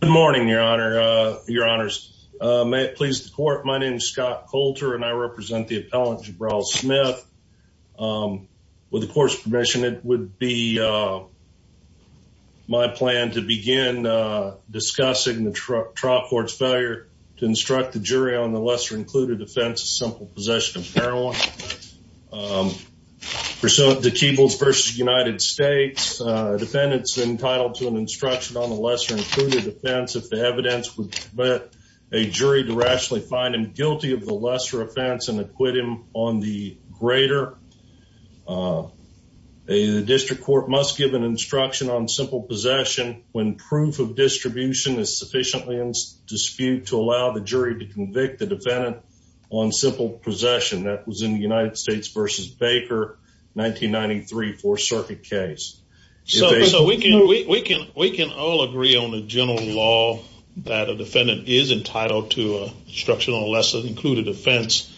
Good morning, your honor, your honors. May it please the court, my name is Scott Coulter and I represent the appellant Jabrell Smith. With the court's permission, it would be my plan to begin discussing the trial court's failure to instruct the jury on the lesser-included offense of simple possession of heroin. The Keebles v. United States defendants entitled to an included offense if the evidence would permit a jury to rationally find him guilty of the lesser offense and acquit him on the greater. The district court must give an instruction on simple possession when proof of distribution is sufficiently disputed to allow the jury to convict the defendant on simple possession. That was in the United States v. Baker 1993 Fourth Circuit case. So we can we can we can all agree on the general law that a defendant is entitled to instructional lesson included offense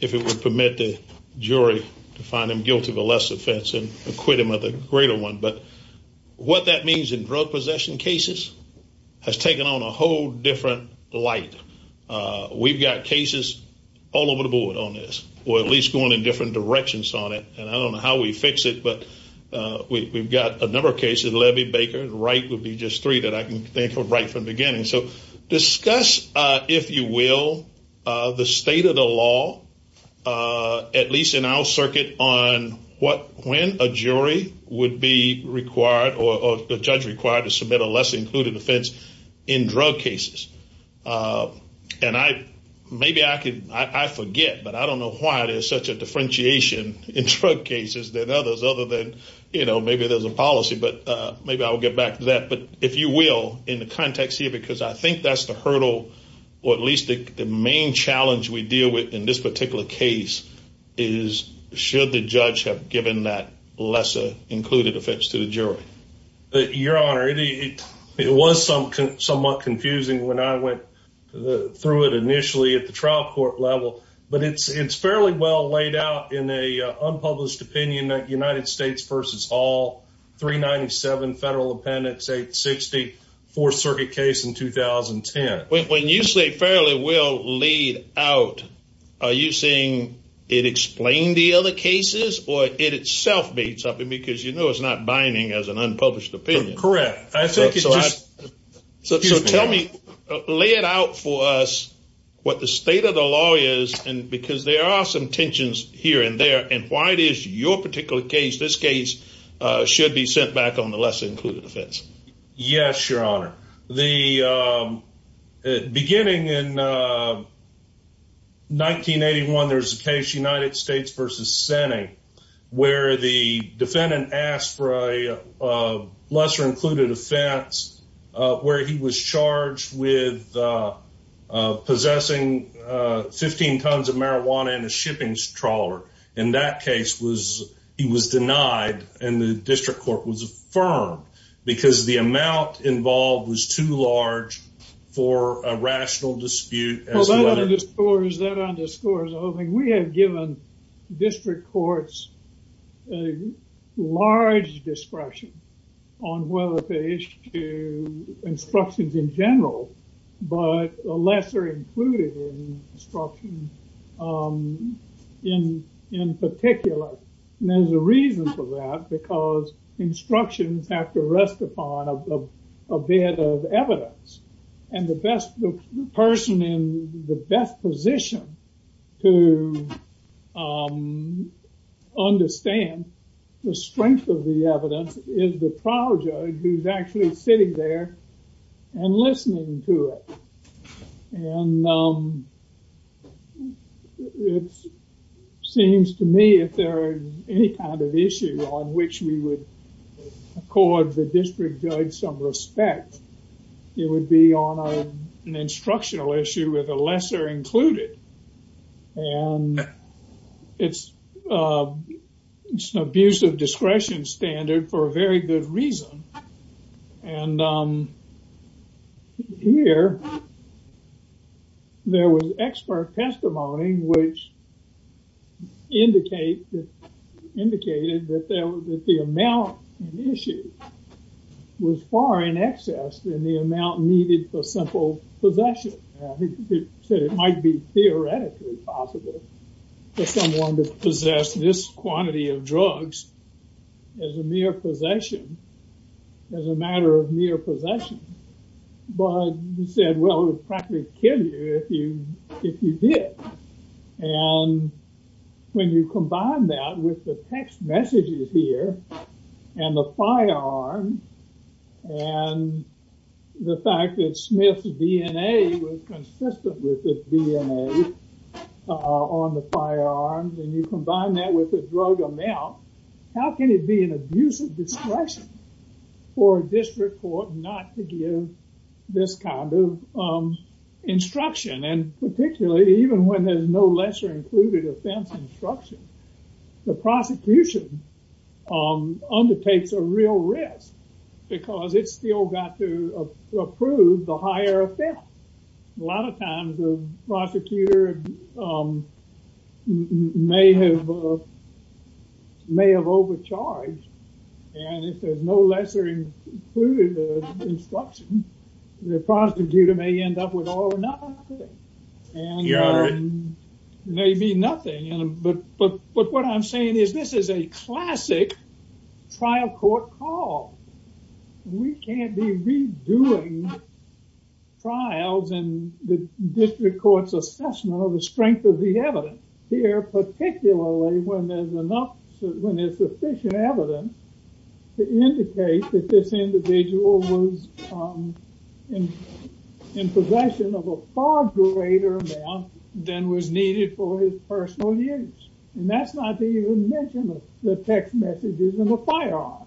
if it would permit the jury to find him guilty of a lesser offense and acquit him of the greater one. But what that means in drug possession cases has taken on a whole different light. We've got cases all over the board on this or at least going in we've got a number of cases Levy, Baker, Wright would be just three that I can think of right from the beginning. So discuss if you will the state of the law at least in our circuit on what when a jury would be required or the judge required to submit a lesser-included offense in drug cases. And I maybe I could I forget but I don't know why there's such a differentiation in drug cases than others other than you know maybe there's a policy but maybe I'll get back to that. But if you will in the context here because I think that's the hurdle or at least the main challenge we deal with in this particular case is should the judge have given that lesser-included offense to the jury. Your Honor it was some somewhat confusing when I went through it initially at the trial court level but it's it's fairly well laid out in a unpublished opinion that United States versus all 397 federal appendix 860 Fourth Circuit case in 2010. When you say fairly well laid out are you saying it explained the other cases or it itself made something because you know it's not binding as an unpublished opinion. Correct. So tell me lay it out for us what the state of the law is and because there are some tensions here and there and why it is your particular case this case should be sent back on the lesser-included offense. Yes Your Honor. The beginning in 1981 there's a case United States versus Senate where the defendant asked for a lesser-included offense where he was charged with possessing 15 tons of marijuana in a rat case was he was denied and the district court was affirmed because the amount involved was too large for a rational dispute. That underscores the whole thing. We have given district courts a large discretion on whether they issue instructions in general but a lesser-included instruction in particular. There's a reason for that because instructions have to rest upon a bit of evidence and the best person in the best position to understand the strength of the evidence is the trial judge who's actually sitting there and me if there are any kind of issues on which we would accord the district judge some respect it would be on an instructional issue with a lesser included and it's it's an abuse of discretion standard for a very good reason and here there was expert testimony which indicate that indicated that there was that the amount in issue was far in excess than the amount needed for simple possession. It might be theoretically possible for someone to possession as a matter of mere possession but he said well it would probably kill you if you if you did and when you combine that with the text messages here and the firearms and the fact that Smith's DNA was consistent with the DNA on the discretion for a district court not to give this kind of instruction and particularly even when there's no lesser included offense instruction the prosecution undertakes a real risk because it's still got to approve the higher offense. A lot of times the prosecutor may have may have overcharged and if there's no lesser included instruction the prosecutor may end up with all or nothing. Maybe nothing but but but what I'm saying is this is a trials and the district courts assessment of the strength of the evidence here particularly when there's enough when there's sufficient evidence to indicate that this individual was in possession of a far greater amount than was needed for his personal use and that's not to even mention the text messages and the firearms.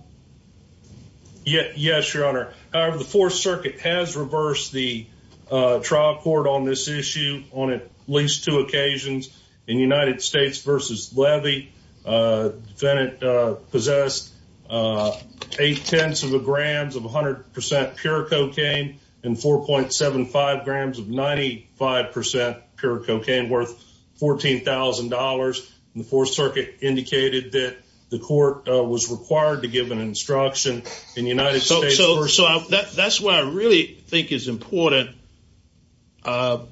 Yes your honor however the Fourth Circuit has reversed the trial court on this issue on at least two occasions in United States versus Levy defendant possessed eight-tenths of a grams of 100% pure cocaine and 4.75 grams of 95% pure cocaine worth $14,000. The Fourth Circuit indicated that the court was required to give an instruction in United States. So that's what I really think is important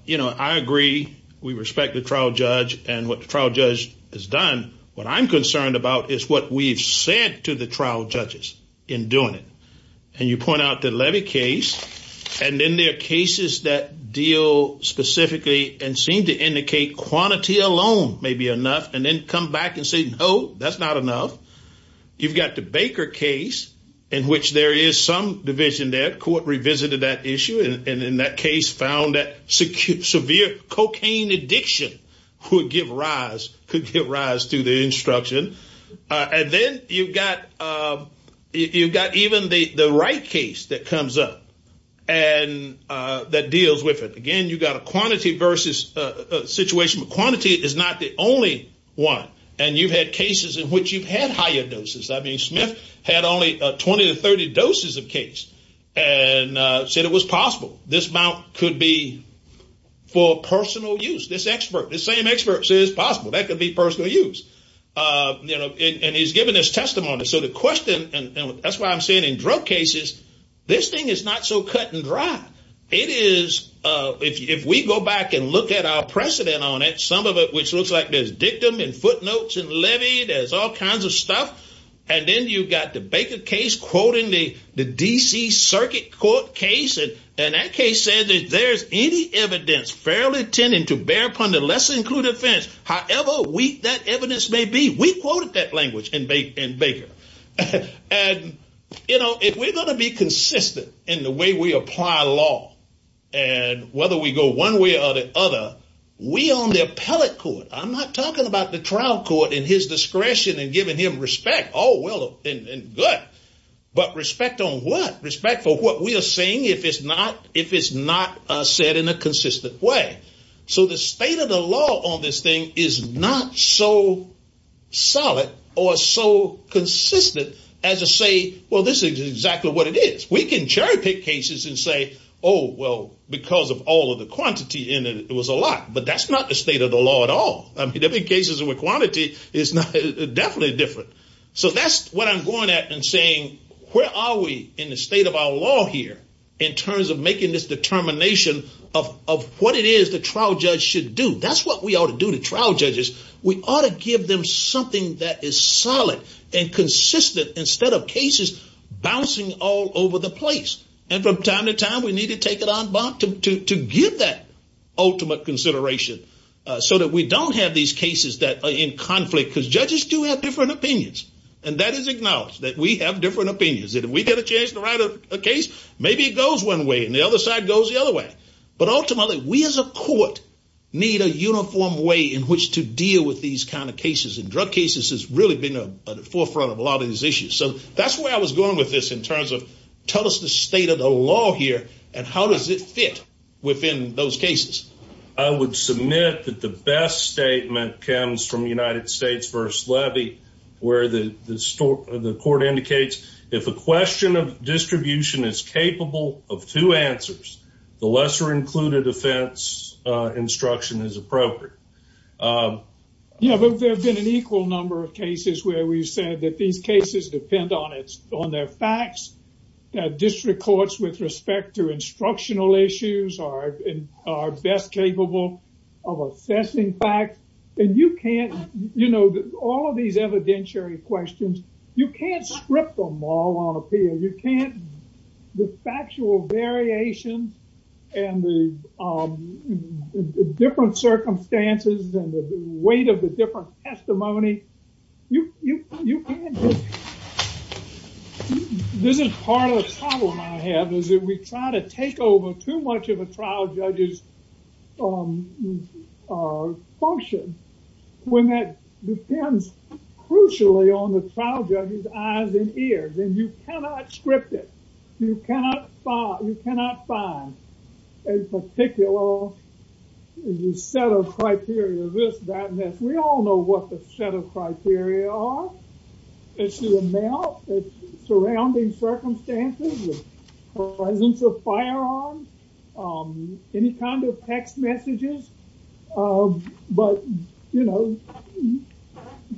you know I agree we respect the trial judge and what the trial judge has done what I'm concerned about is what we've said to the trial judges in doing it and you point out the Levy case and then there are cases that deal specifically and seem to indicate quantity alone may be not enough. You've got the Baker case in which there is some division that court revisited that issue and in that case found that severe cocaine addiction would give rise could give rise to the instruction and then you've got you've got even the right case that comes up and that deals with it again you got a quantity versus a situation quantity is not the only one and you've had cases in which you've had higher doses I mean Smith had only 20 to 30 doses of case and said it was possible this amount could be for personal use this expert the same experts is possible that could be personal use you know and he's given this testimony so the question and that's why I'm saying in drug cases this thing is not so cut-and-dry it is if we go back and look at our precedent on it some of it which looks like there's dictum and footnotes and Levy there's all kinds of stuff and then you've got the Baker case quoting the the DC Circuit Court case and that case said that there's any evidence fairly tending to bear upon the less included offense however weak that evidence may be we quoted that language and baked in Baker and you know if we're going to be consistent in the way we apply law and whether we go one way or the other we on the appellate court I'm not talking about the trial court in his discretion and giving him respect oh well and good but respect on what respect for what we are saying if it's not if it's not said in a consistent way so the state of the law on this thing is not so solid or so consistent as a say well this is exactly what it is we can cherry-pick cases and say oh well because of all of the state of the law at all I mean every cases with quantity is not definitely different so that's what I'm going at and saying where are we in the state of our law here in terms of making this determination of what it is the trial judge should do that's what we ought to do to trial judges we ought to give them something that is solid and consistent instead of cases bouncing all over the place and from time to time we need to take it on back to give that ultimate consideration so that we don't have these cases that are in conflict because judges do have different opinions and that is acknowledged that we have different opinions that if we get a chance to write a case maybe it goes one way and the other side goes the other way but ultimately we as a court need a uniform way in which to deal with these kind of cases and drug cases has really been a forefront of a lot of these issues so that's where I was going with this in terms of tell us the state of the law here and how does it fit within those cases I would submit that the best statement comes from United States first levy where the the store the court indicates if a question of distribution is capable of two answers the lesser included offense instruction is appropriate you know there have been an equal number of cases where we've said that these cases depend on its on their facts that district courts with respect to instructional issues are best capable of assessing facts and you can't you know all of these evidentiary questions you can't script them all on appeal you can't the factual variations and the different circumstances and the weight of the different testimony you this is part of the problem I have is that we try to take over too much of a trial judges function when that depends crucially on the trial judges eyes and ears and you cannot script it you cannot you cannot find a particular set of criteria this badness we all know what the set of criteria are it's the amount it's surrounding circumstances presence of firearms any kind of text messages but you know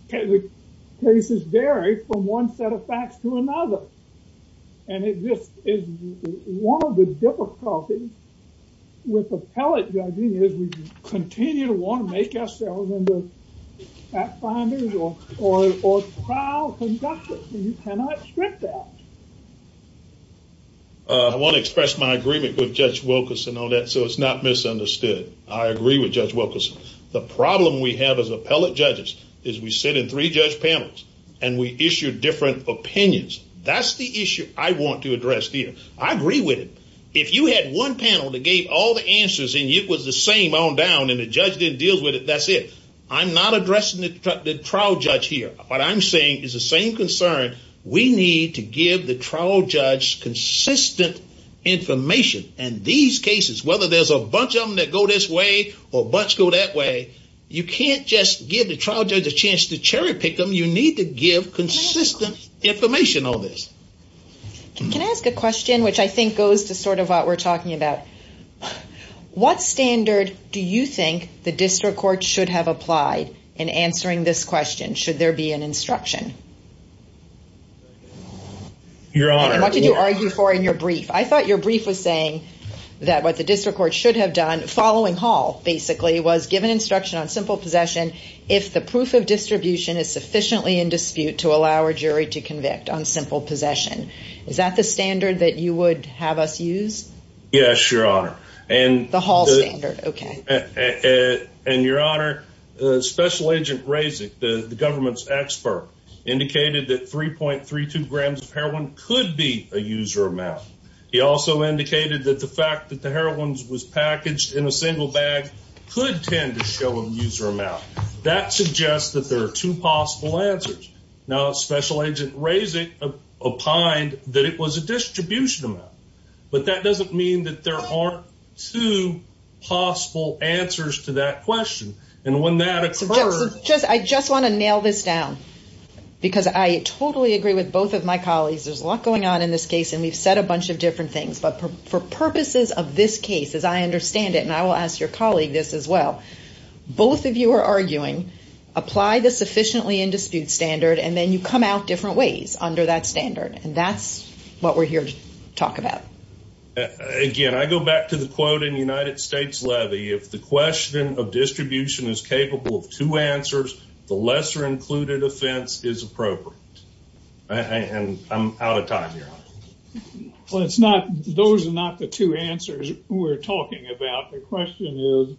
the cases vary from one set of facts to another and it just is one of the difficulties with appellate judging is we continue to want to make ourselves in the fact finders or trial conductors you cannot script that. I want to express my agreement with Judge Wilkerson on that so it's not misunderstood I agree with Judge Wilkerson the problem we have as appellate judges is we sit in three judge panels and we issue different opinions that's the issue I want to address here I agree with it if you had one panel that gave all the answers and it was the same on down and the judge didn't deal with it that's it I'm not addressing the trial judge here what I'm saying is the same concern we need to give the trial judge consistent information and these cases whether there's a bunch of them that go this way or bunch go that way you can't just give the trial judge a chance to cherry-pick them you need to give consistent information on this can I ask a question which I think goes to sort of what we're talking about what standard do you think the district court should have applied in answering this question should there be an instruction your honor what did you argue for in your brief I thought your brief was saying that what the district court should have done following Hall basically was given instruction on simple possession if the proof of distribution is sufficiently in dispute to allow a jury to convict on simple possession is that the standard that you would have us use yes your honor and the hall standard okay and your honor special agent raising the government's expert indicated that 3.32 grams of heroin could be a user amount he also indicated that the fact that the user amount that suggests that there are two possible answers now special agent raising a pine that it was a distribution amount but that doesn't mean that there aren't two possible answers to that question and when that occurs just I just want to nail this down because I totally agree with both of my colleagues there's a lot going on in this case and we've said a bunch of different things but for purposes of this case as I understand it and I will ask your colleague this as well both of you are arguing apply the sufficiently in dispute standard and then you come out different ways under that standard and that's what we're here to talk about again I go back to the quote in United States levy if the question of distribution is capable of two answers the lesser included offense is appropriate and I'm out of time here well it's not those are not the two answers we're talking about the question is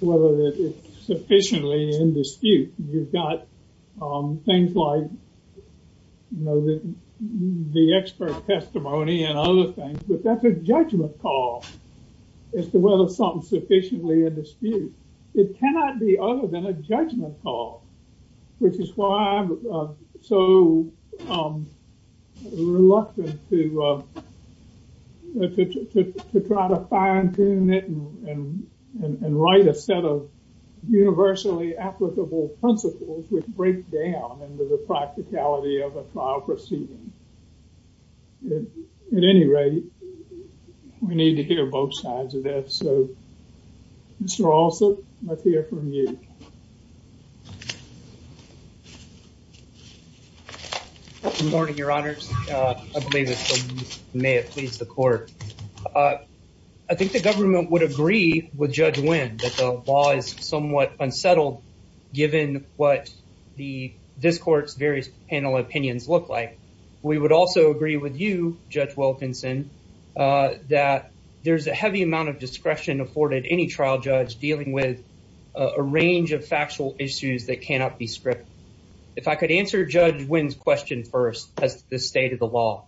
whether it's sufficiently in dispute you've got things like you know that the expert testimony and other things but that's a judgment call as to whether something sufficiently in dispute it cannot be other than a judgment call which is why I'm so reluctant to try to fine-tune it and write a set of universally applicable principles which break down into the practicality of a trial proceeding at any rate we need to hear both sides of this so Mr. Alsop let's hear from you morning your honors may it please the court I think the government would agree with judge win that the law is somewhat unsettled given what the this court's various panel opinions look like we would also agree with you judge Wilkinson that there's a heavy amount of discretion afforded any trial judge dealing with a range of factual issues that cannot be script if I could answer judge wins question first as the state of the law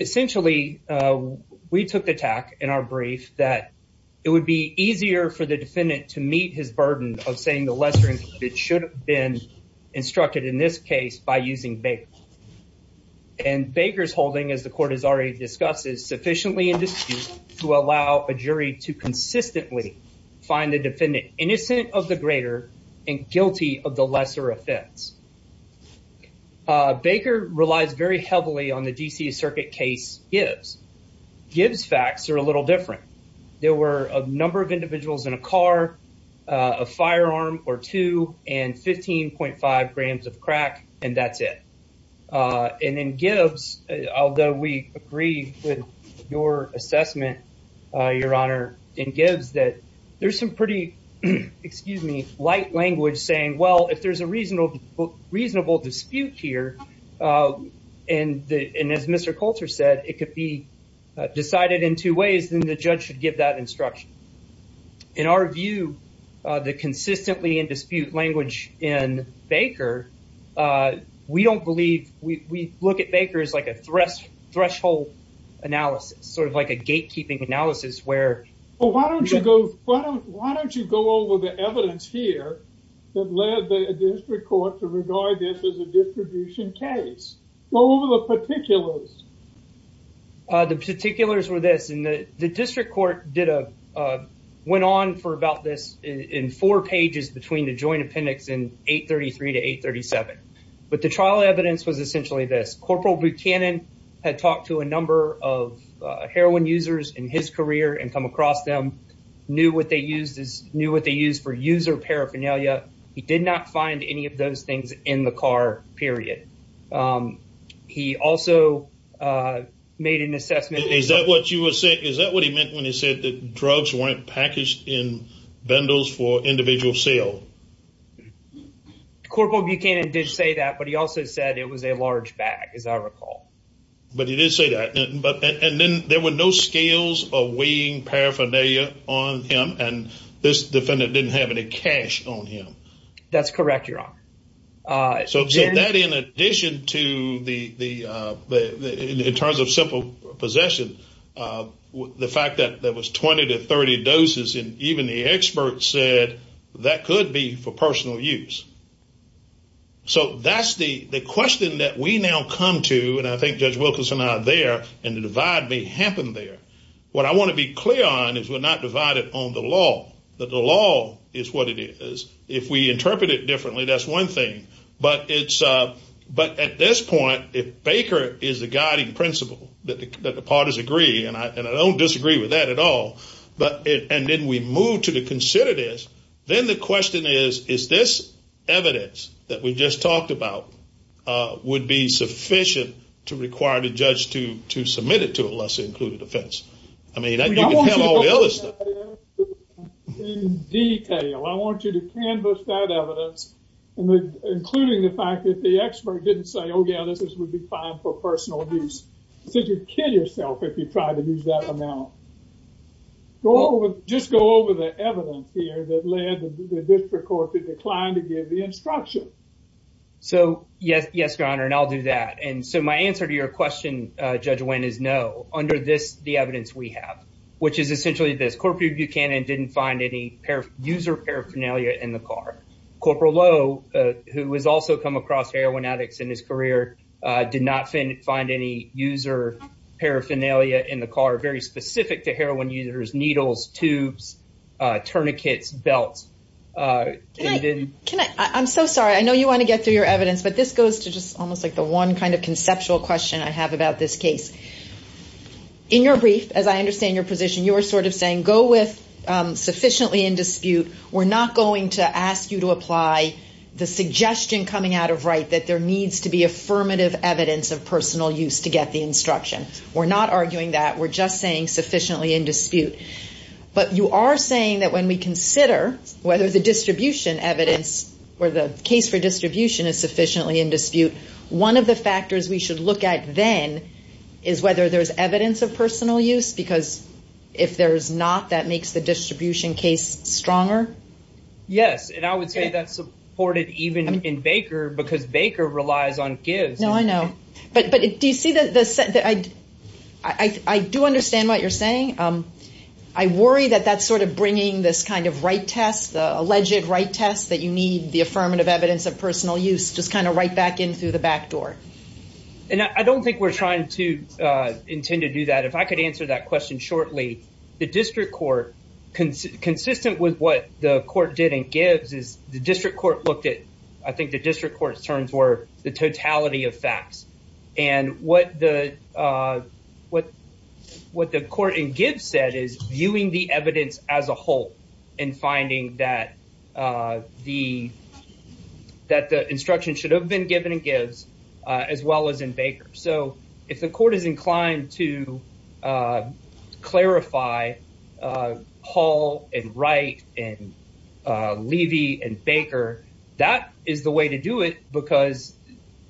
essentially we took the tack in our brief that it would be easier for the defendant to meet his burden of saying the lesser it should have been instructed in this case by using bake and bakers holding as the court has already discussed is sufficiently in dispute to allow a jury to consistently find the defendant innocent of the greater and guilty of the lesser offense Baker relies very heavily on the DC Circuit case gives gives facts are a little different there were a number of individuals in a car a firearm or two and 15.5 grams of crack and that's it and then gives although we agree with your assessment your honor in Gibbs that there's some pretty excuse me light language saying well if there's a reasonable reasonable dispute here and the and as mr. Coulter said it could be decided in two ways then the judge should give that instruction in our view the consistently in dispute language in Baker we don't believe we look at Baker is like a thrust threshold analysis sort of like a gatekeeping analysis where oh why don't you go why don't you go over the evidence here that led the district court to regard this as a distribution case go over the particulars the particulars were this and the district court did a went on for about this in four pages between the joint appendix in 833 to 837 but the trial evidence was essentially this corporal Buchanan had talked to a number of heroin users in his career and come across them knew what they used is knew what they use for user paraphernalia he did not find any of those things in the car period he also made an assessment is that what you would say is that what he meant when he said that drugs weren't packaged in vandals for individual sale corporal Buchanan did say that but he also said it was a large bag as I recall but he did say that but and then there were no scales of weighing paraphernalia on him and this defendant didn't have any cash on him that's correct your honor so that in addition to the in terms of simple possession the fact that there was 20 to 30 doses and even the expert said that could be for personal use so that's the the question that we now come to and I think judge Wilkinson are there and the divide may happen there what I want to be clear on is we're not divided on the law that the law is what it is if we interpret it differently that's one thing but it's but at this point if Baker is the guiding principle that the parties agree and I don't disagree with that at all but and then we move to the consider this then the question is is this evidence that we just talked about would be sufficient to require the judge to to submit it to a less included offense I mean I don't want you to canvass that evidence and including the fact that the expert didn't say oh yeah this is would be fine for personal abuse since you kill yourself if you try to use that amount go over just go over the evidence here that led the district court to decline to give the instruction so yes yes your honor and I'll do that and so my answer to your question judge Wynn is no under this the evidence we have which is essentially this corporate Buchanan didn't find any pair of user paraphernalia in the car corporal Lowe who has also come across heroin addicts in his career did not find any user paraphernalia in the car very specific to heroin users needles tubes tourniquets belts I'm so sorry I know you want to get your evidence but this goes to just almost like the one kind of conceptual question I have about this case in your brief as I understand your position you were sort of saying go with sufficiently in dispute we're not going to ask you to apply the suggestion coming out of right that there needs to be affirmative evidence of personal use to get the instruction we're not arguing that we're just saying sufficiently in dispute but you are saying that when we consider whether the distribution evidence where the case for distribution is sufficiently in dispute one of the factors we should look at then is whether there's evidence of personal use because if there's not that makes the distribution case stronger yes and I would say that's supported even in Baker because Baker relies on I do understand what you're saying I worry that that's sort of bringing this kind of right test the alleged right test that you need the affirmative evidence of personal use just kind of right back in through the back door and I don't think we're trying to intend to do that if I could answer that question shortly the district court consistent with what the court didn't gives is the district court looked at I think the district court's terms were the totality of facts and what the what what the court in Gibbs said is viewing the evidence as a whole and finding that the that the instruction should have been given in Gibbs as well as in Baker so if the court is inclined to clarify Hall and Wright and Levy and Baker that is the way to do it because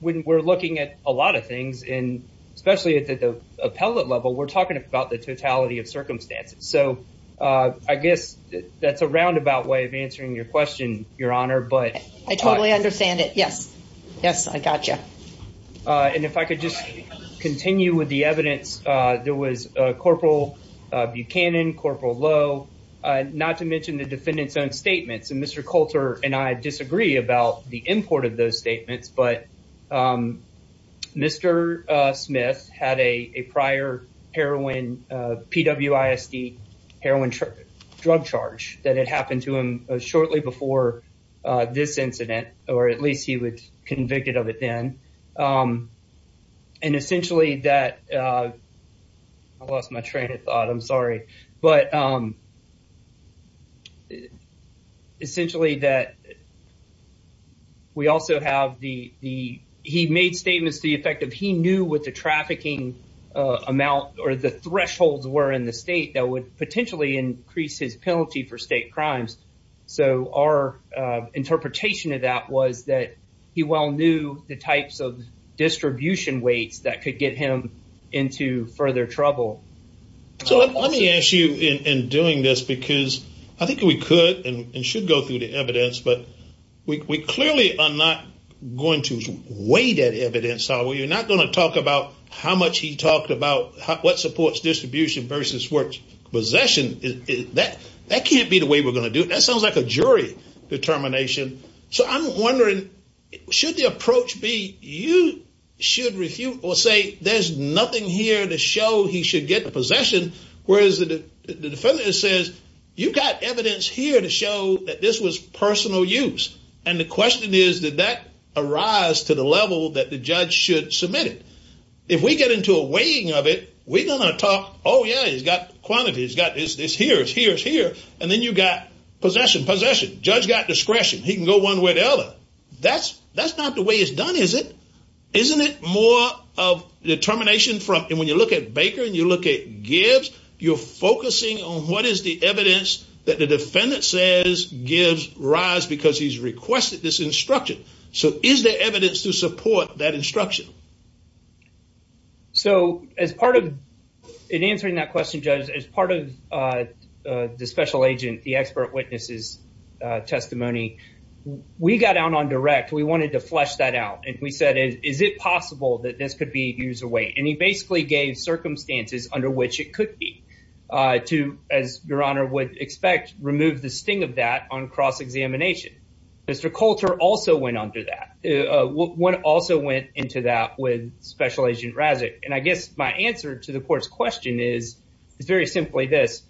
when we're looking at a lot of things and especially at the appellate level we're talking about the totality of circumstances so I guess that's a roundabout way of answering your question your honor but I totally understand it yes yes I got you and if I could just continue with the evidence there was Corporal Buchanan Corporal Lowe not to mention the defendant's own statements and Mr. Coulter and I disagree about the import of those statements but Mr. Smith had a prior heroin PWISD heroin drug charge that had happened to him shortly before this incident or at least he was convicted of it then and essentially that I lost my train of thought I'm sorry but essentially that we also have the the he made statements the effect of he knew what the trafficking amount or the thresholds were in the state that would potentially increase his penalty for state crimes so our interpretation of that was that he well knew the types of distribution weights that could get him into further trouble so let me ask you in doing this because I think we could and should go through the evidence but we clearly are not going to weigh that evidence so we're not going to talk about how much he talked about what supports distribution versus what possession is that that can't be the way that sounds like a jury determination so I'm wondering should the approach be you should refute or say there's nothing here to show he should get possession whereas the defendant says you've got evidence here to show that this was personal use and the question is did that arise to the level that the judge should submit it if we get into a weighing of it we're gonna talk oh yeah he's got quantity he's got this this here's here's here and then you got possession possession judge got discretion he can go one way the other that's that's not the way it's done is it isn't it more of determination from and when you look at baker and you look at gives you're focusing on what is the evidence that the defendant says gives rise because he's requested this instruction so is there evidence to support that instruction so as part of in answering that question judge as part of the special agent the expert witnesses testimony we got out on direct we wanted to flesh that out and we said is it possible that this could be used away and he basically gave circumstances under which it could be to as your honor would expect remove the sting of that on cross-examination mr. Coulter also went under that one also went into that with special agent Razzak and I guess my answer to the court's question is it's very simply this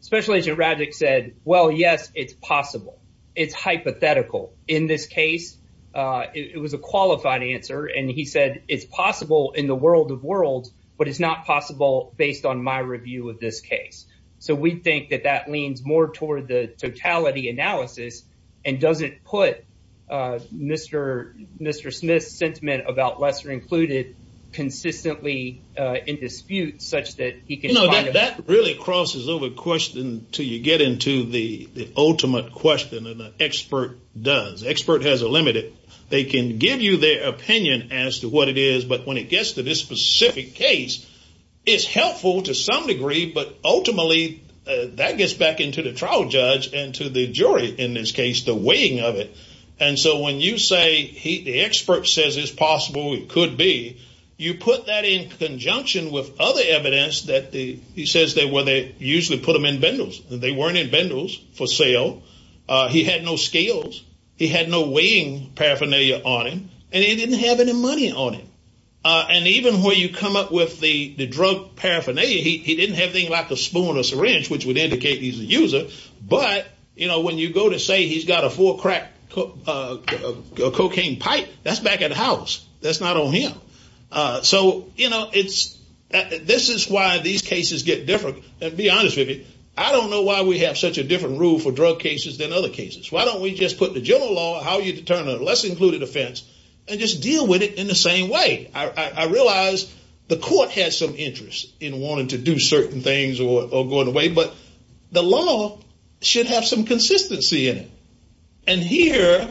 special agent Razzak said well yes it's possible it's hypothetical in this case it was a qualified answer and he said it's possible in the world of world but it's not possible based on my review of this case so we think that that leans more the totality analysis and doesn't put mr. mr. smith sentiment about lesser included consistently in dispute such that he can know that that really crosses over question till you get into the ultimate question and the expert does expert has a limited they can give you their opinion as to what it is but when it gets to this specific case it's helpful to some degree but ultimately that gets back into the trial judge and to the jury in this case the weighing of it and so when you say he the expert says it's possible it could be you put that in conjunction with other evidence that the he says they were they usually put them in bundles they weren't in bundles for sale he had no scales he had no weighing paraphernalia on him and he didn't have any money on him and even where you come up with the the drug paraphernalia he didn't have anything like a spoon or syringe which would indicate he's a user but you know when you go to say he's got a four crack cocaine pipe that's back at house that's not on him so you know it's this is why these cases get different and be honest with me i don't know why we have such a different rule for drug cases than other cases why don't we just put the general law how you determine a less included offense and just deal with it in the same way i i realize the court has some things or going away but the law should have some consistency in it and here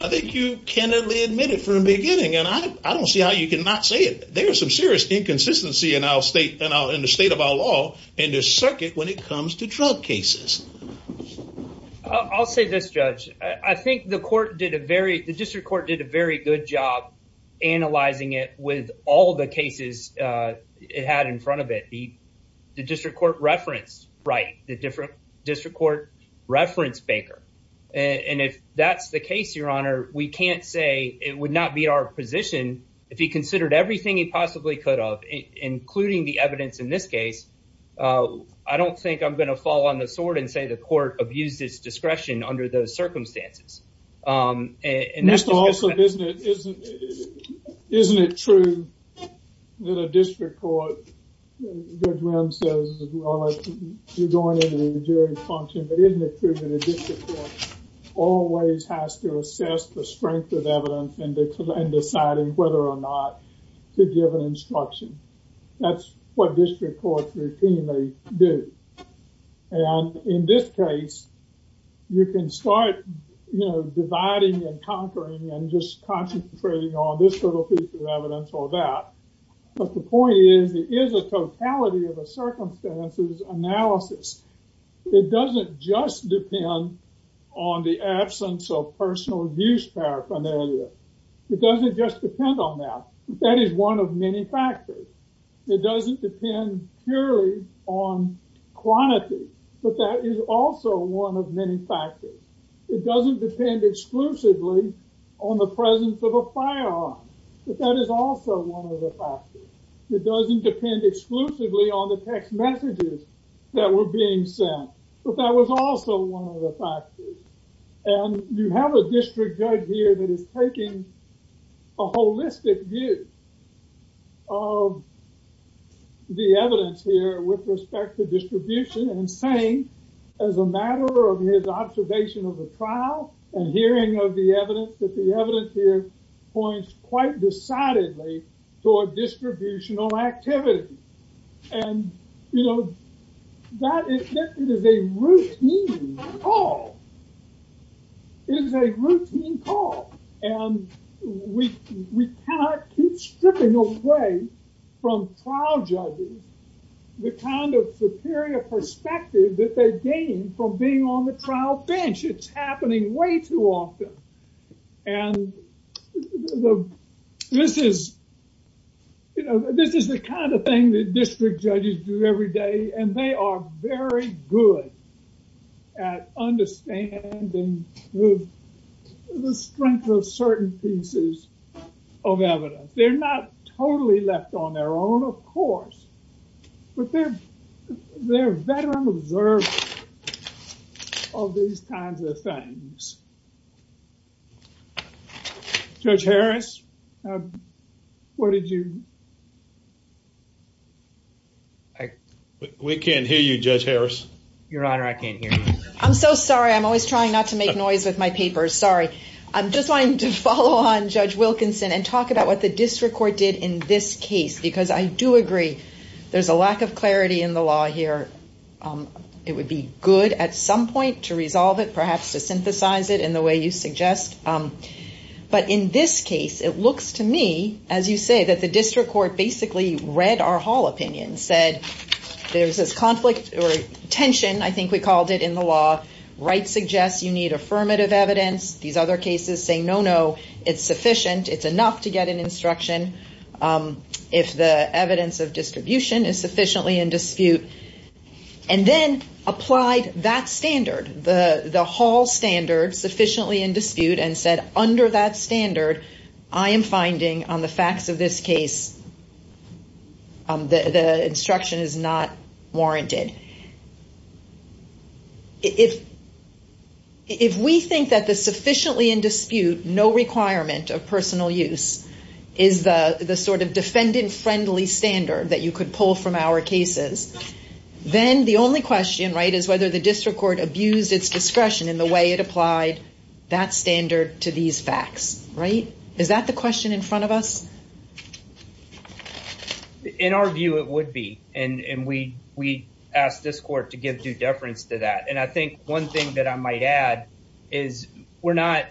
i think you candidly admitted from the beginning and i i don't see how you can not say it there's some serious inconsistency in our state and i'll in the state of our law in this circuit when it comes to drug cases i'll say this judge i think the court did a very the district court did a very good job analyzing it with all the cases uh it had in front of it the the district court reference right the different district court reference baker and if that's the case your honor we can't say it would not be our position if he considered everything he possibly could have including the evidence in this case uh i don't think i'm going to fall on the sword and say the court abused its isn't it true that a district court judge says as well as you're going into the jury function but isn't it true that a district court always has to assess the strength of evidence and deciding whether or not to give an instruction that's what district courts routinely do and in this case you can start you know on this little piece of evidence or that but the point is it is a totality of a circumstances analysis it doesn't just depend on the absence of personal abuse paraphernalia it doesn't just depend on that that is one of many factors it doesn't depend purely on quantity but that is also one of many factors it doesn't depend exclusively on the presence of a firearm but that is also one of the factors it doesn't depend exclusively on the text messages that were being sent but that was also one of the factors and you have a district judge here that is taking a holistic view of the evidence here with respect to distribution and saying as a matter of his observation of the trial and hearing of the evidence that the evidence here points quite decidedly toward distributional activity and you know that it is a routine call it is a routine call and we cannot keep stripping away from trial judges the kind of superior perspective that they gain from being on the court way too often and this is you know this is the kind of thing that district judges do every day and they are very good at understanding the strength of certain pieces of evidence they're not totally left on their own of course but they're they're veteran observers of these kinds of things. Judge Harris what did you? I we can't hear you Judge Harris. Your honor I can't hear you. I'm so sorry I'm always trying not to make noise with my papers sorry I'm just wanting to follow on Judge Wilkinson and talk about what the district court did in this case because I do agree there's a lack of clarity in the law here it would be good at some point to resolve it perhaps to synthesize it in the way you suggest but in this case it looks to me as you say that the district court basically read our hall opinion said there's this conflict or tension I think we called it in the law right suggests you need affirmative evidence these other cases say no no it's sufficient it's enough to get an is sufficiently in dispute and then applied that standard the the hall standard sufficiently in dispute and said under that standard I am finding on the facts of this case the instruction is not warranted. If we think that the sufficiently in dispute no requirement of personal use is the the sort of defendant friendly standard that you could pull from our cases then the only question right is whether the district court abused its discretion in the way it applied that standard to these facts right is that the question in front of us? In our view it would be and and we we asked this court to give due deference to that and I think one thing that I might add is we're not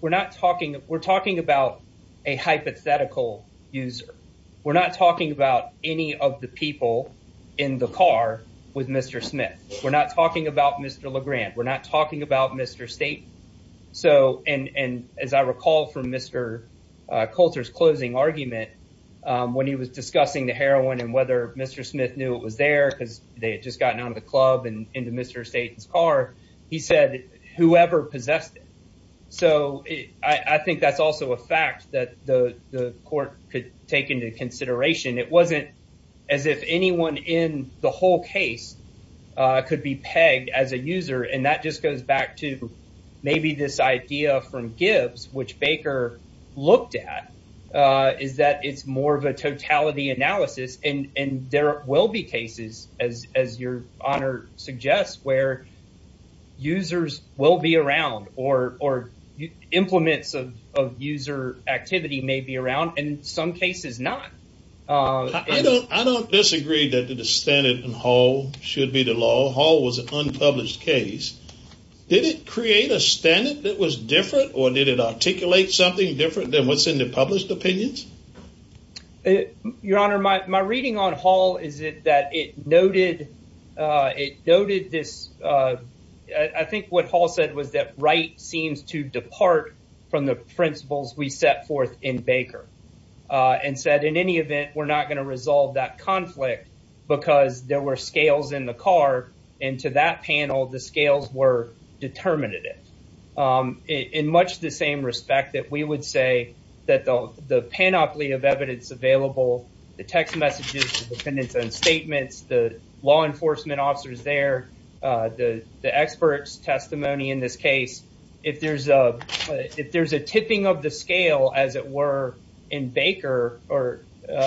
we're not talking we're talking about a hypothetical user we're not talking about any of the people in the car with Mr. Smith we're not talking about Mr. LeGrand we're not talking about Mr. Staton so and and as I recall from Mr. Coulter's closing argument when he was discussing the heroin and whether Mr. Smith knew it was there because they had just gotten out of the club and into Mr. Staton's car he said whoever possessed it so I I think that's also a fact that the the court could take into consideration it wasn't as if anyone in the whole case uh could be pegged as a user and that just goes back to maybe this idea from Gibbs which Baker looked at uh is that it's more of a totality analysis and and there will be cases as as your honor suggests where users will be around or or implements of of user activity may be around in some cases not uh I don't I don't disagree that the standard and Hall should be the law Hall was an unpublished case did it create a standard that was different or did it articulate something different than what's in the published opinions your honor my my reading on Hall is it that it noted uh it noted this uh I think what Hall said was that Wright seems to depart from the principles we set forth in Baker and said in any event we're not going to resolve that conflict because there were scales in the car and to that panel the scales were determinative um in much the same respect that we would say that the the panoply of evidence available the text messages the defendant's own statements the law enforcement officers there uh the the experts testimony in this case if there's a if there's a tipping of the scale as it were in Baker or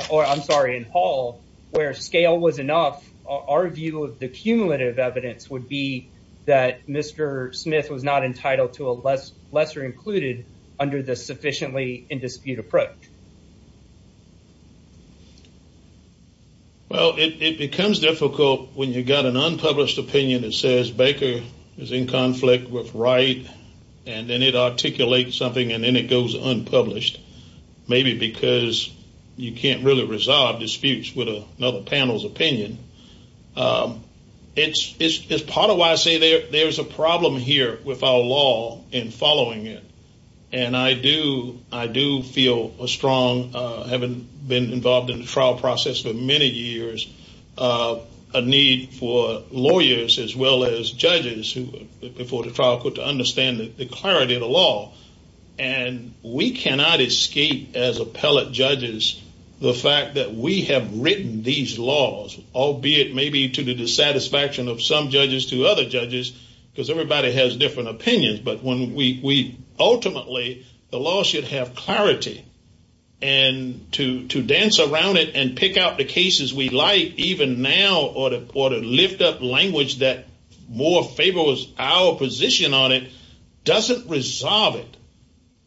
or I'm sorry in Hall where scale was enough our view of the cumulative evidence would be that Mr. Smith was not entitled to a less lesser included under the sufficiently in dispute approach well it becomes difficult when you got an unpublished opinion that says Baker is in conflict with Wright and then it articulates something and then it goes unpublished maybe because you can't really resolve disputes with another panel's opinion um it's it's part of why I say there there's a problem here with our law in following it and I do I do feel a strong uh having been involved in the trial process for many years uh a need for lawyers as well as judges who before the trial could to understand the clarity of the and we cannot escape as appellate judges the fact that we have written these laws albeit maybe to the dissatisfaction of some judges to other judges because everybody has different opinions but when we we ultimately the law should have clarity and to to dance around it and pick out the cases we like even now or to or to lift up language that more favors our position on it doesn't resolve it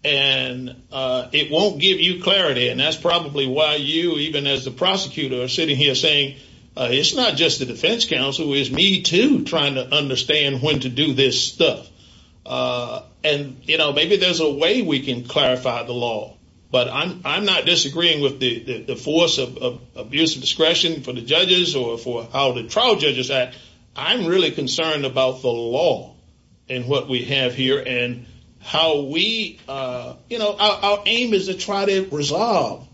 and uh it won't give you clarity and that's probably why you even as the prosecutor are sitting here saying it's not just the defense counsel is me too trying to understand when to do this stuff uh and you know maybe there's a way we can clarify the law but I'm I'm not disagreeing with the the force of abuse of discretion for the judges or for how the trial judges that I'm really concerned about the law and what we have here and how we uh you know our aim is to try to resolve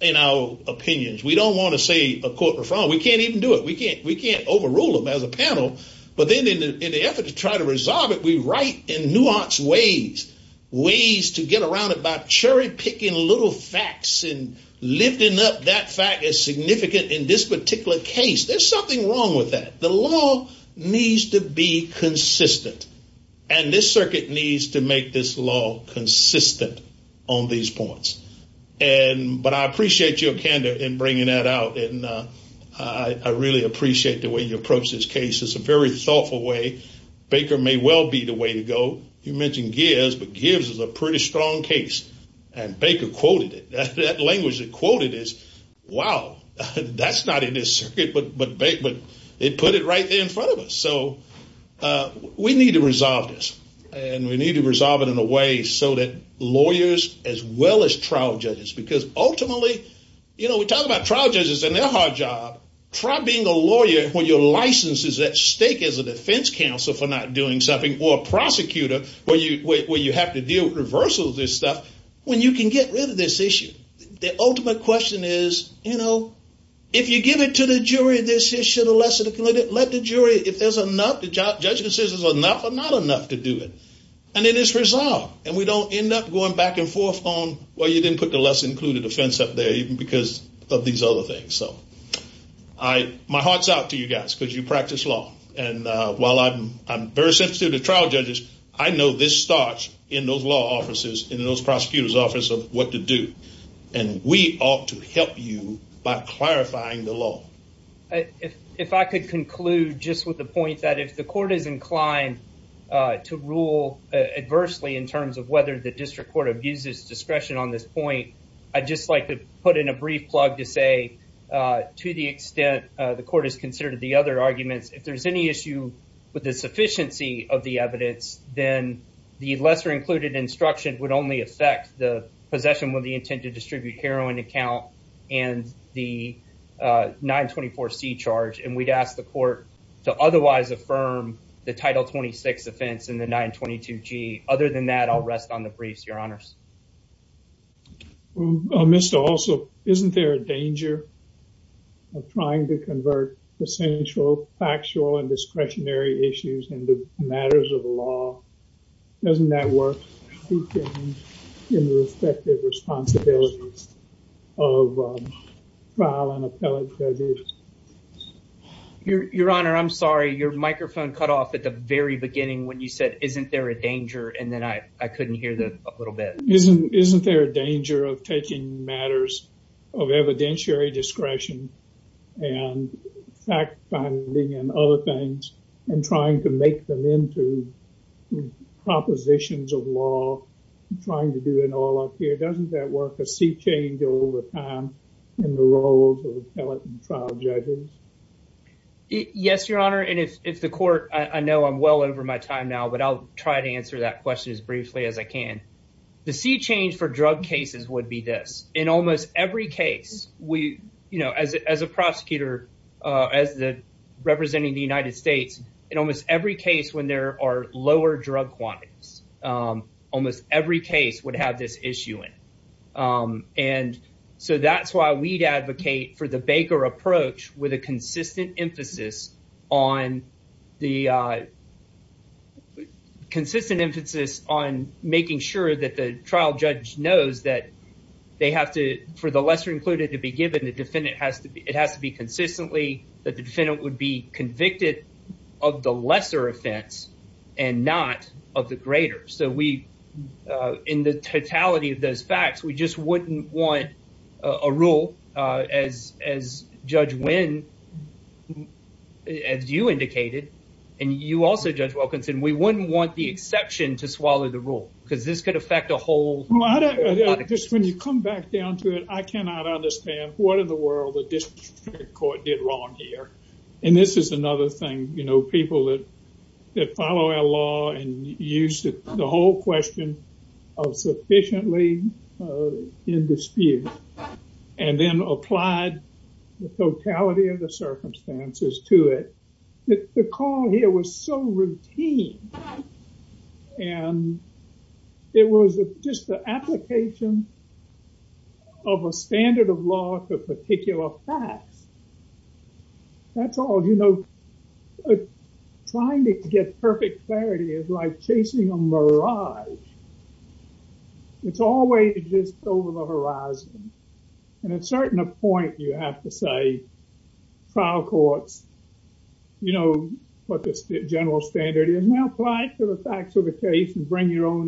in our opinions we don't want to say a court referral we can't even do it we can't we can't overrule them as a panel but then in the effort to try to resolve it we write in nuanced ways ways to get around about cherry picking little facts and lifting up that fact significant in this particular case there's something wrong with that the law needs to be consistent and this circuit needs to make this law consistent on these points and but I appreciate your candor in bringing that out and uh I really appreciate the way you approach this case it's a very thoughtful way baker may well be the way to go you mentioned gears but gives us a pretty strong case and baker quoted it that language that quoted is wow that's not in this circuit but but bake but they put it right there in front of us so uh we need to resolve this and we need to resolve it in a way so that lawyers as well as trial judges because ultimately you know we talk about trial judges and their hard job try being a lawyer when your license is at stake as a defense counsel for not doing something or prosecutor where you where you have to deal with reversals this stuff when you can get rid of this issue the ultimate question is you know if you give it to the jury this issue the lesser the committed let the jury if there's enough the judge says is enough or not enough to do it and it is resolved and we don't end up going back and forth on well you didn't put the less included offense up there even because of these other things so I my heart's out to you guys because you practice law and while I'm I'm very sensitive to trial judges I know this starts in those law offices in those prosecutors office of what to do and we ought to help you by clarifying the law if I could conclude just with the point that if the court is inclined to rule adversely in terms of whether the district court abuses discretion on this point I'd just like to put in a brief plug to say to the extent the court has considered the other arguments if there's any issue with the sufficiency of the evidence then the lesser included instruction would only affect the possession with the intent to distribute heroin account and the 924c charge and we'd ask the court to otherwise affirm the title 26 offense in the 922g other than that I'll rest on the briefs your honors. Mr. also isn't there a danger of trying to convert essential factual and discretionary issues into matters of law doesn't that work in the respective responsibilities of trial and appellate judges? Your your honor I'm sorry your microphone cut off at the very beginning when you said isn't there a danger and then I I couldn't hear the a little bit. Isn't isn't there a danger of taking matters of evidentiary discretion and fact finding and other things and trying to make them into propositions of law trying to do it all up here doesn't that work a sea change over time in the roles of trial judges? Yes your honor and if the court I know I'm well over my time now but I'll try to answer that question as briefly as I can. The sea change for drug cases would be this in almost every case we you know as a prosecutor as the representing the United States in almost every case when there are lower drug quantities almost every case would have this issue in and so that's why we'd advocate for the baker approach with a consistent emphasis on the consistent emphasis on making sure that the trial judge knows that they have to for the lesser included to be given the defendant has to be it has to be consistently that the defendant would be convicted of the lesser offense and not of the greater so we in the totality of those facts we just wouldn't want a rule as as Judge Wynn as you indicated and you also Judge Wilkinson we wouldn't want the exception to swallow the rule because this could affect a whole lot of just when you come back down to it I cannot understand what in the world the district court did wrong here and this is another thing you know people that that follow our law and use the whole question of sufficiently in dispute and then applied the totality of the circumstances to it the call here was so routine and it was just the application of a standard of law for particular facts that's all you know trying to get perfect clarity is like chasing a mirage it's always just over the horizon and at a certain point you have to say trial courts you know what the general standard is now apply it to the facts of the case and bring your own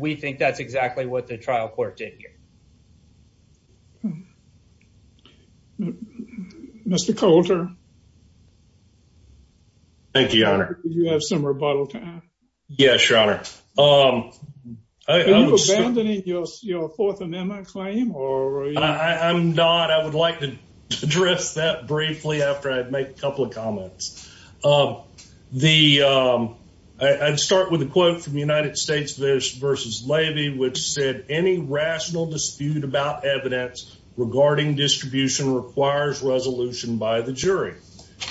we think that's exactly what the trial court did here Mr. Coulter thank you your honor you have some rebuttal time yes your honor um are you abandoning your fourth amendment claim or I'm not I would like to address that briefly after I make a couple of comments the I'd start with a quote from United States versus Levy which said any rational dispute about evidence regarding distribution requires resolution by the jury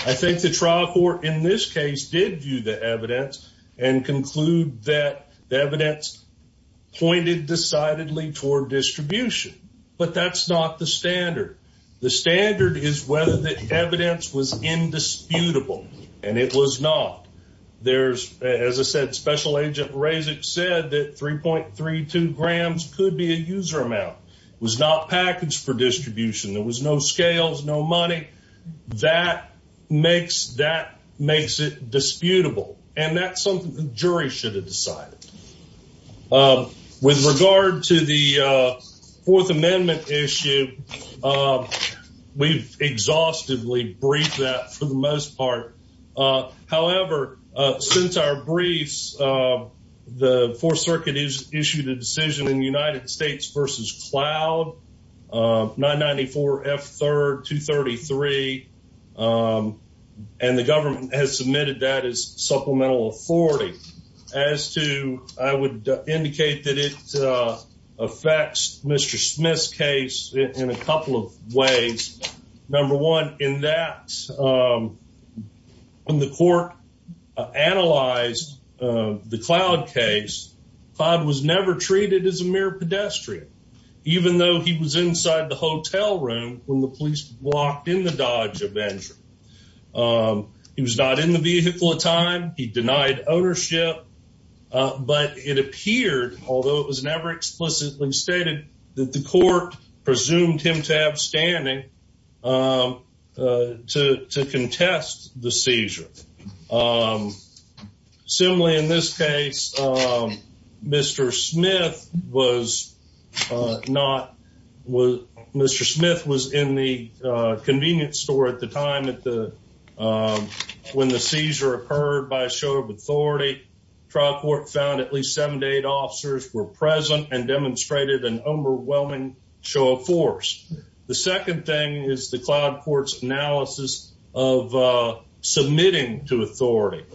I think the trial court in this case did view the evidence and conclude that the evidence pointed decidedly toward distribution but that's not the standard the standard is whether evidence was indisputable and it was not there's as I said special agent Razik said that 3.32 grams could be a user amount was not packaged for distribution there was no scales no money that makes that makes it disputable and that's something the jury should have decided uh with regard to the uh fourth amendment issue uh we've exhaustively briefed that for the most part uh however uh since our briefs uh the fourth circuit is issued a decision in the United States versus cloud uh 994 f third 233 um and the government has submitted that as supplemental authority as to I would indicate that it uh affects Mr. Smith's case in a couple of ways number one in that um when the court analyzed uh the cloud case Todd was never treated as a mere pedestrian even though he was inside the hotel room when the police walked in the Dodge Avenger um he was not in the vehicle at time he denied ownership uh but it appeared although it was never explicitly stated that the court presumed him to have standing um uh to to contest the seizure um similarly in this case um Mr. Smith was uh not was Mr. Smith was in the uh convenience store at the time at the um when the seizure occurred by a show of authority trial court found at least seven to eight officers were present and demonstrated an overwhelming show of force the second thing is the cloud court's analysis of uh submitting to authority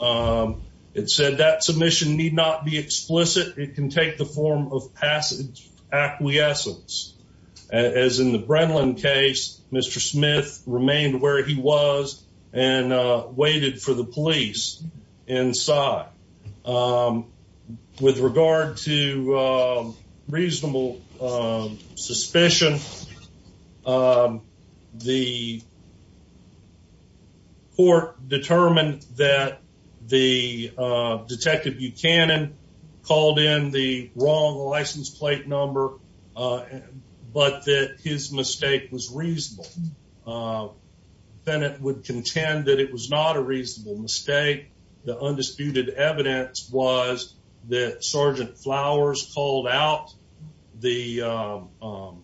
um it said that submission need not be explicit it can take the form of passage acquiescence as in the Brenlin case Mr. Smith remained where he was and uh waited for the police inside um with regard to uh reasonable uh suspicion um the court determined that the uh detective Buchanan called in the wrong license plate number uh but that his mistake was reasonable uh then it would contend that it was not a reasonable mistake the undisputed evidence was that Sergeant Flowers called out the um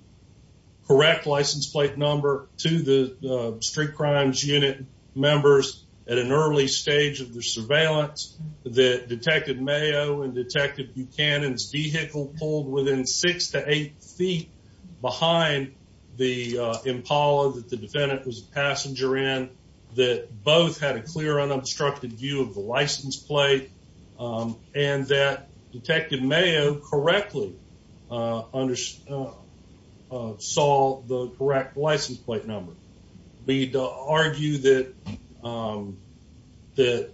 correct license plate number to the street crimes unit members at an early stage of the surveillance that Detective Mayo and Detective Buchanan's vehicle pulled within six to eight feet behind the uh Impala that the defendant was a passenger in that both had a clear unobstructed view of the license plate um and that Detective Mayo correctly uh understood saw the correct license plate number we'd argue that um that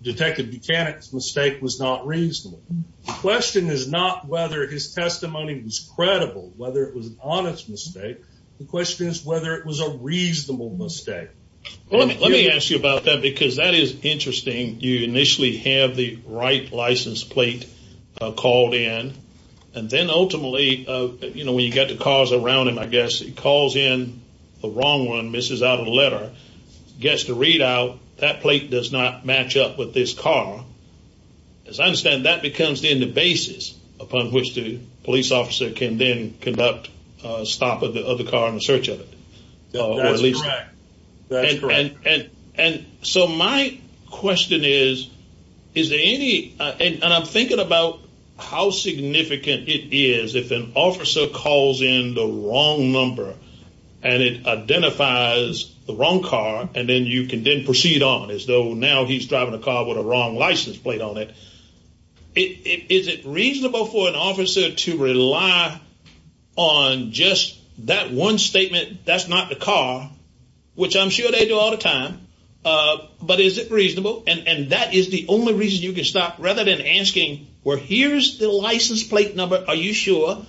Detective Buchanan's mistake was not reasonable question is not whether his testimony was credible whether it was an honest mistake the question is whether it was a reasonable mistake let me ask you about that because that is interesting you initially have the right license plate uh called in and then ultimately uh you know when you get the around him I guess he calls in the wrong one misses out of the letter gets the readout that plate does not match up with this car as I understand that becomes then the basis upon which the police officer can then conduct a stop of the other car in the search of it and so my question is is there any and I'm thinking about how significant it is if an calls in the wrong number and it identifies the wrong car and then you can then proceed on as though now he's driving a car with a wrong license plate on it is it reasonable for an officer to rely on just that one statement that's not the car which I'm sure they do all the time uh but is it reasonable and and that is the only reason you can stop rather than asking where here's the license plate number are you sure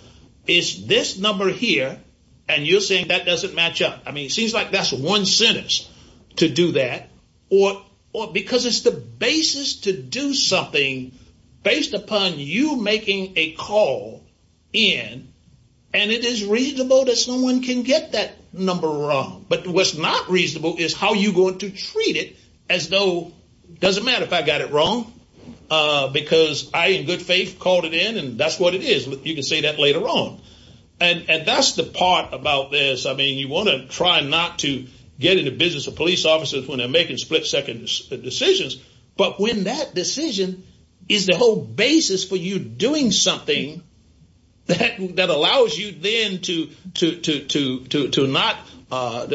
it's this number here and you're saying that doesn't match up I mean it seems like that's one sentence to do that or or because it's the basis to do something based upon you making a call in and it is reasonable that someone can get that number wrong but what's not reasonable is how you going to treat it as though doesn't matter if I got it wrong uh because I in faith called it in and that's what it is you can say that later on and and that's the part about this I mean you want to try not to get in the business of police officers when they're making split-second decisions but when that decision is the whole basis for you doing something that that allows you then to to to to to not uh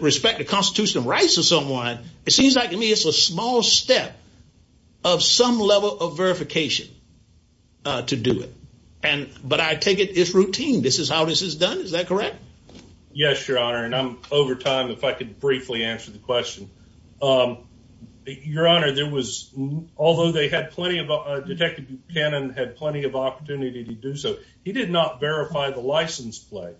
respect the constitutional rights of someone it seems like it's a small step of some level of verification uh to do it and but I take it it's routine this is how this is done is that correct yes your honor and I'm over time if I could briefly answer the question um your honor there was although they had plenty of detective Buchanan had plenty of opportunity to do so he did not verify the license plate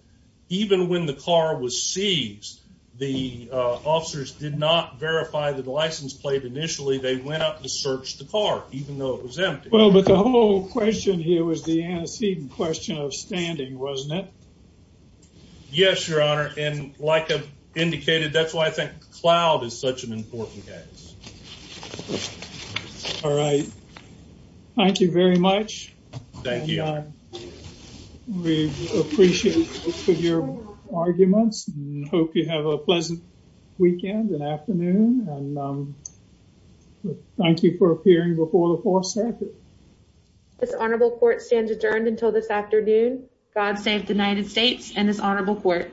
even when the car was seized the uh officers did not verify the license plate initially they went up to search the car even though it was empty well but the whole question here was the antecedent question of standing wasn't it yes your honor and like I've indicated that's why I think cloud is such an important case all right thank you very much thank you we appreciate your arguments and hope you have a good afternoon and um thank you for appearing before the fourth circuit this honorable court stands adjourned until this afternoon god save the united states and this honorable court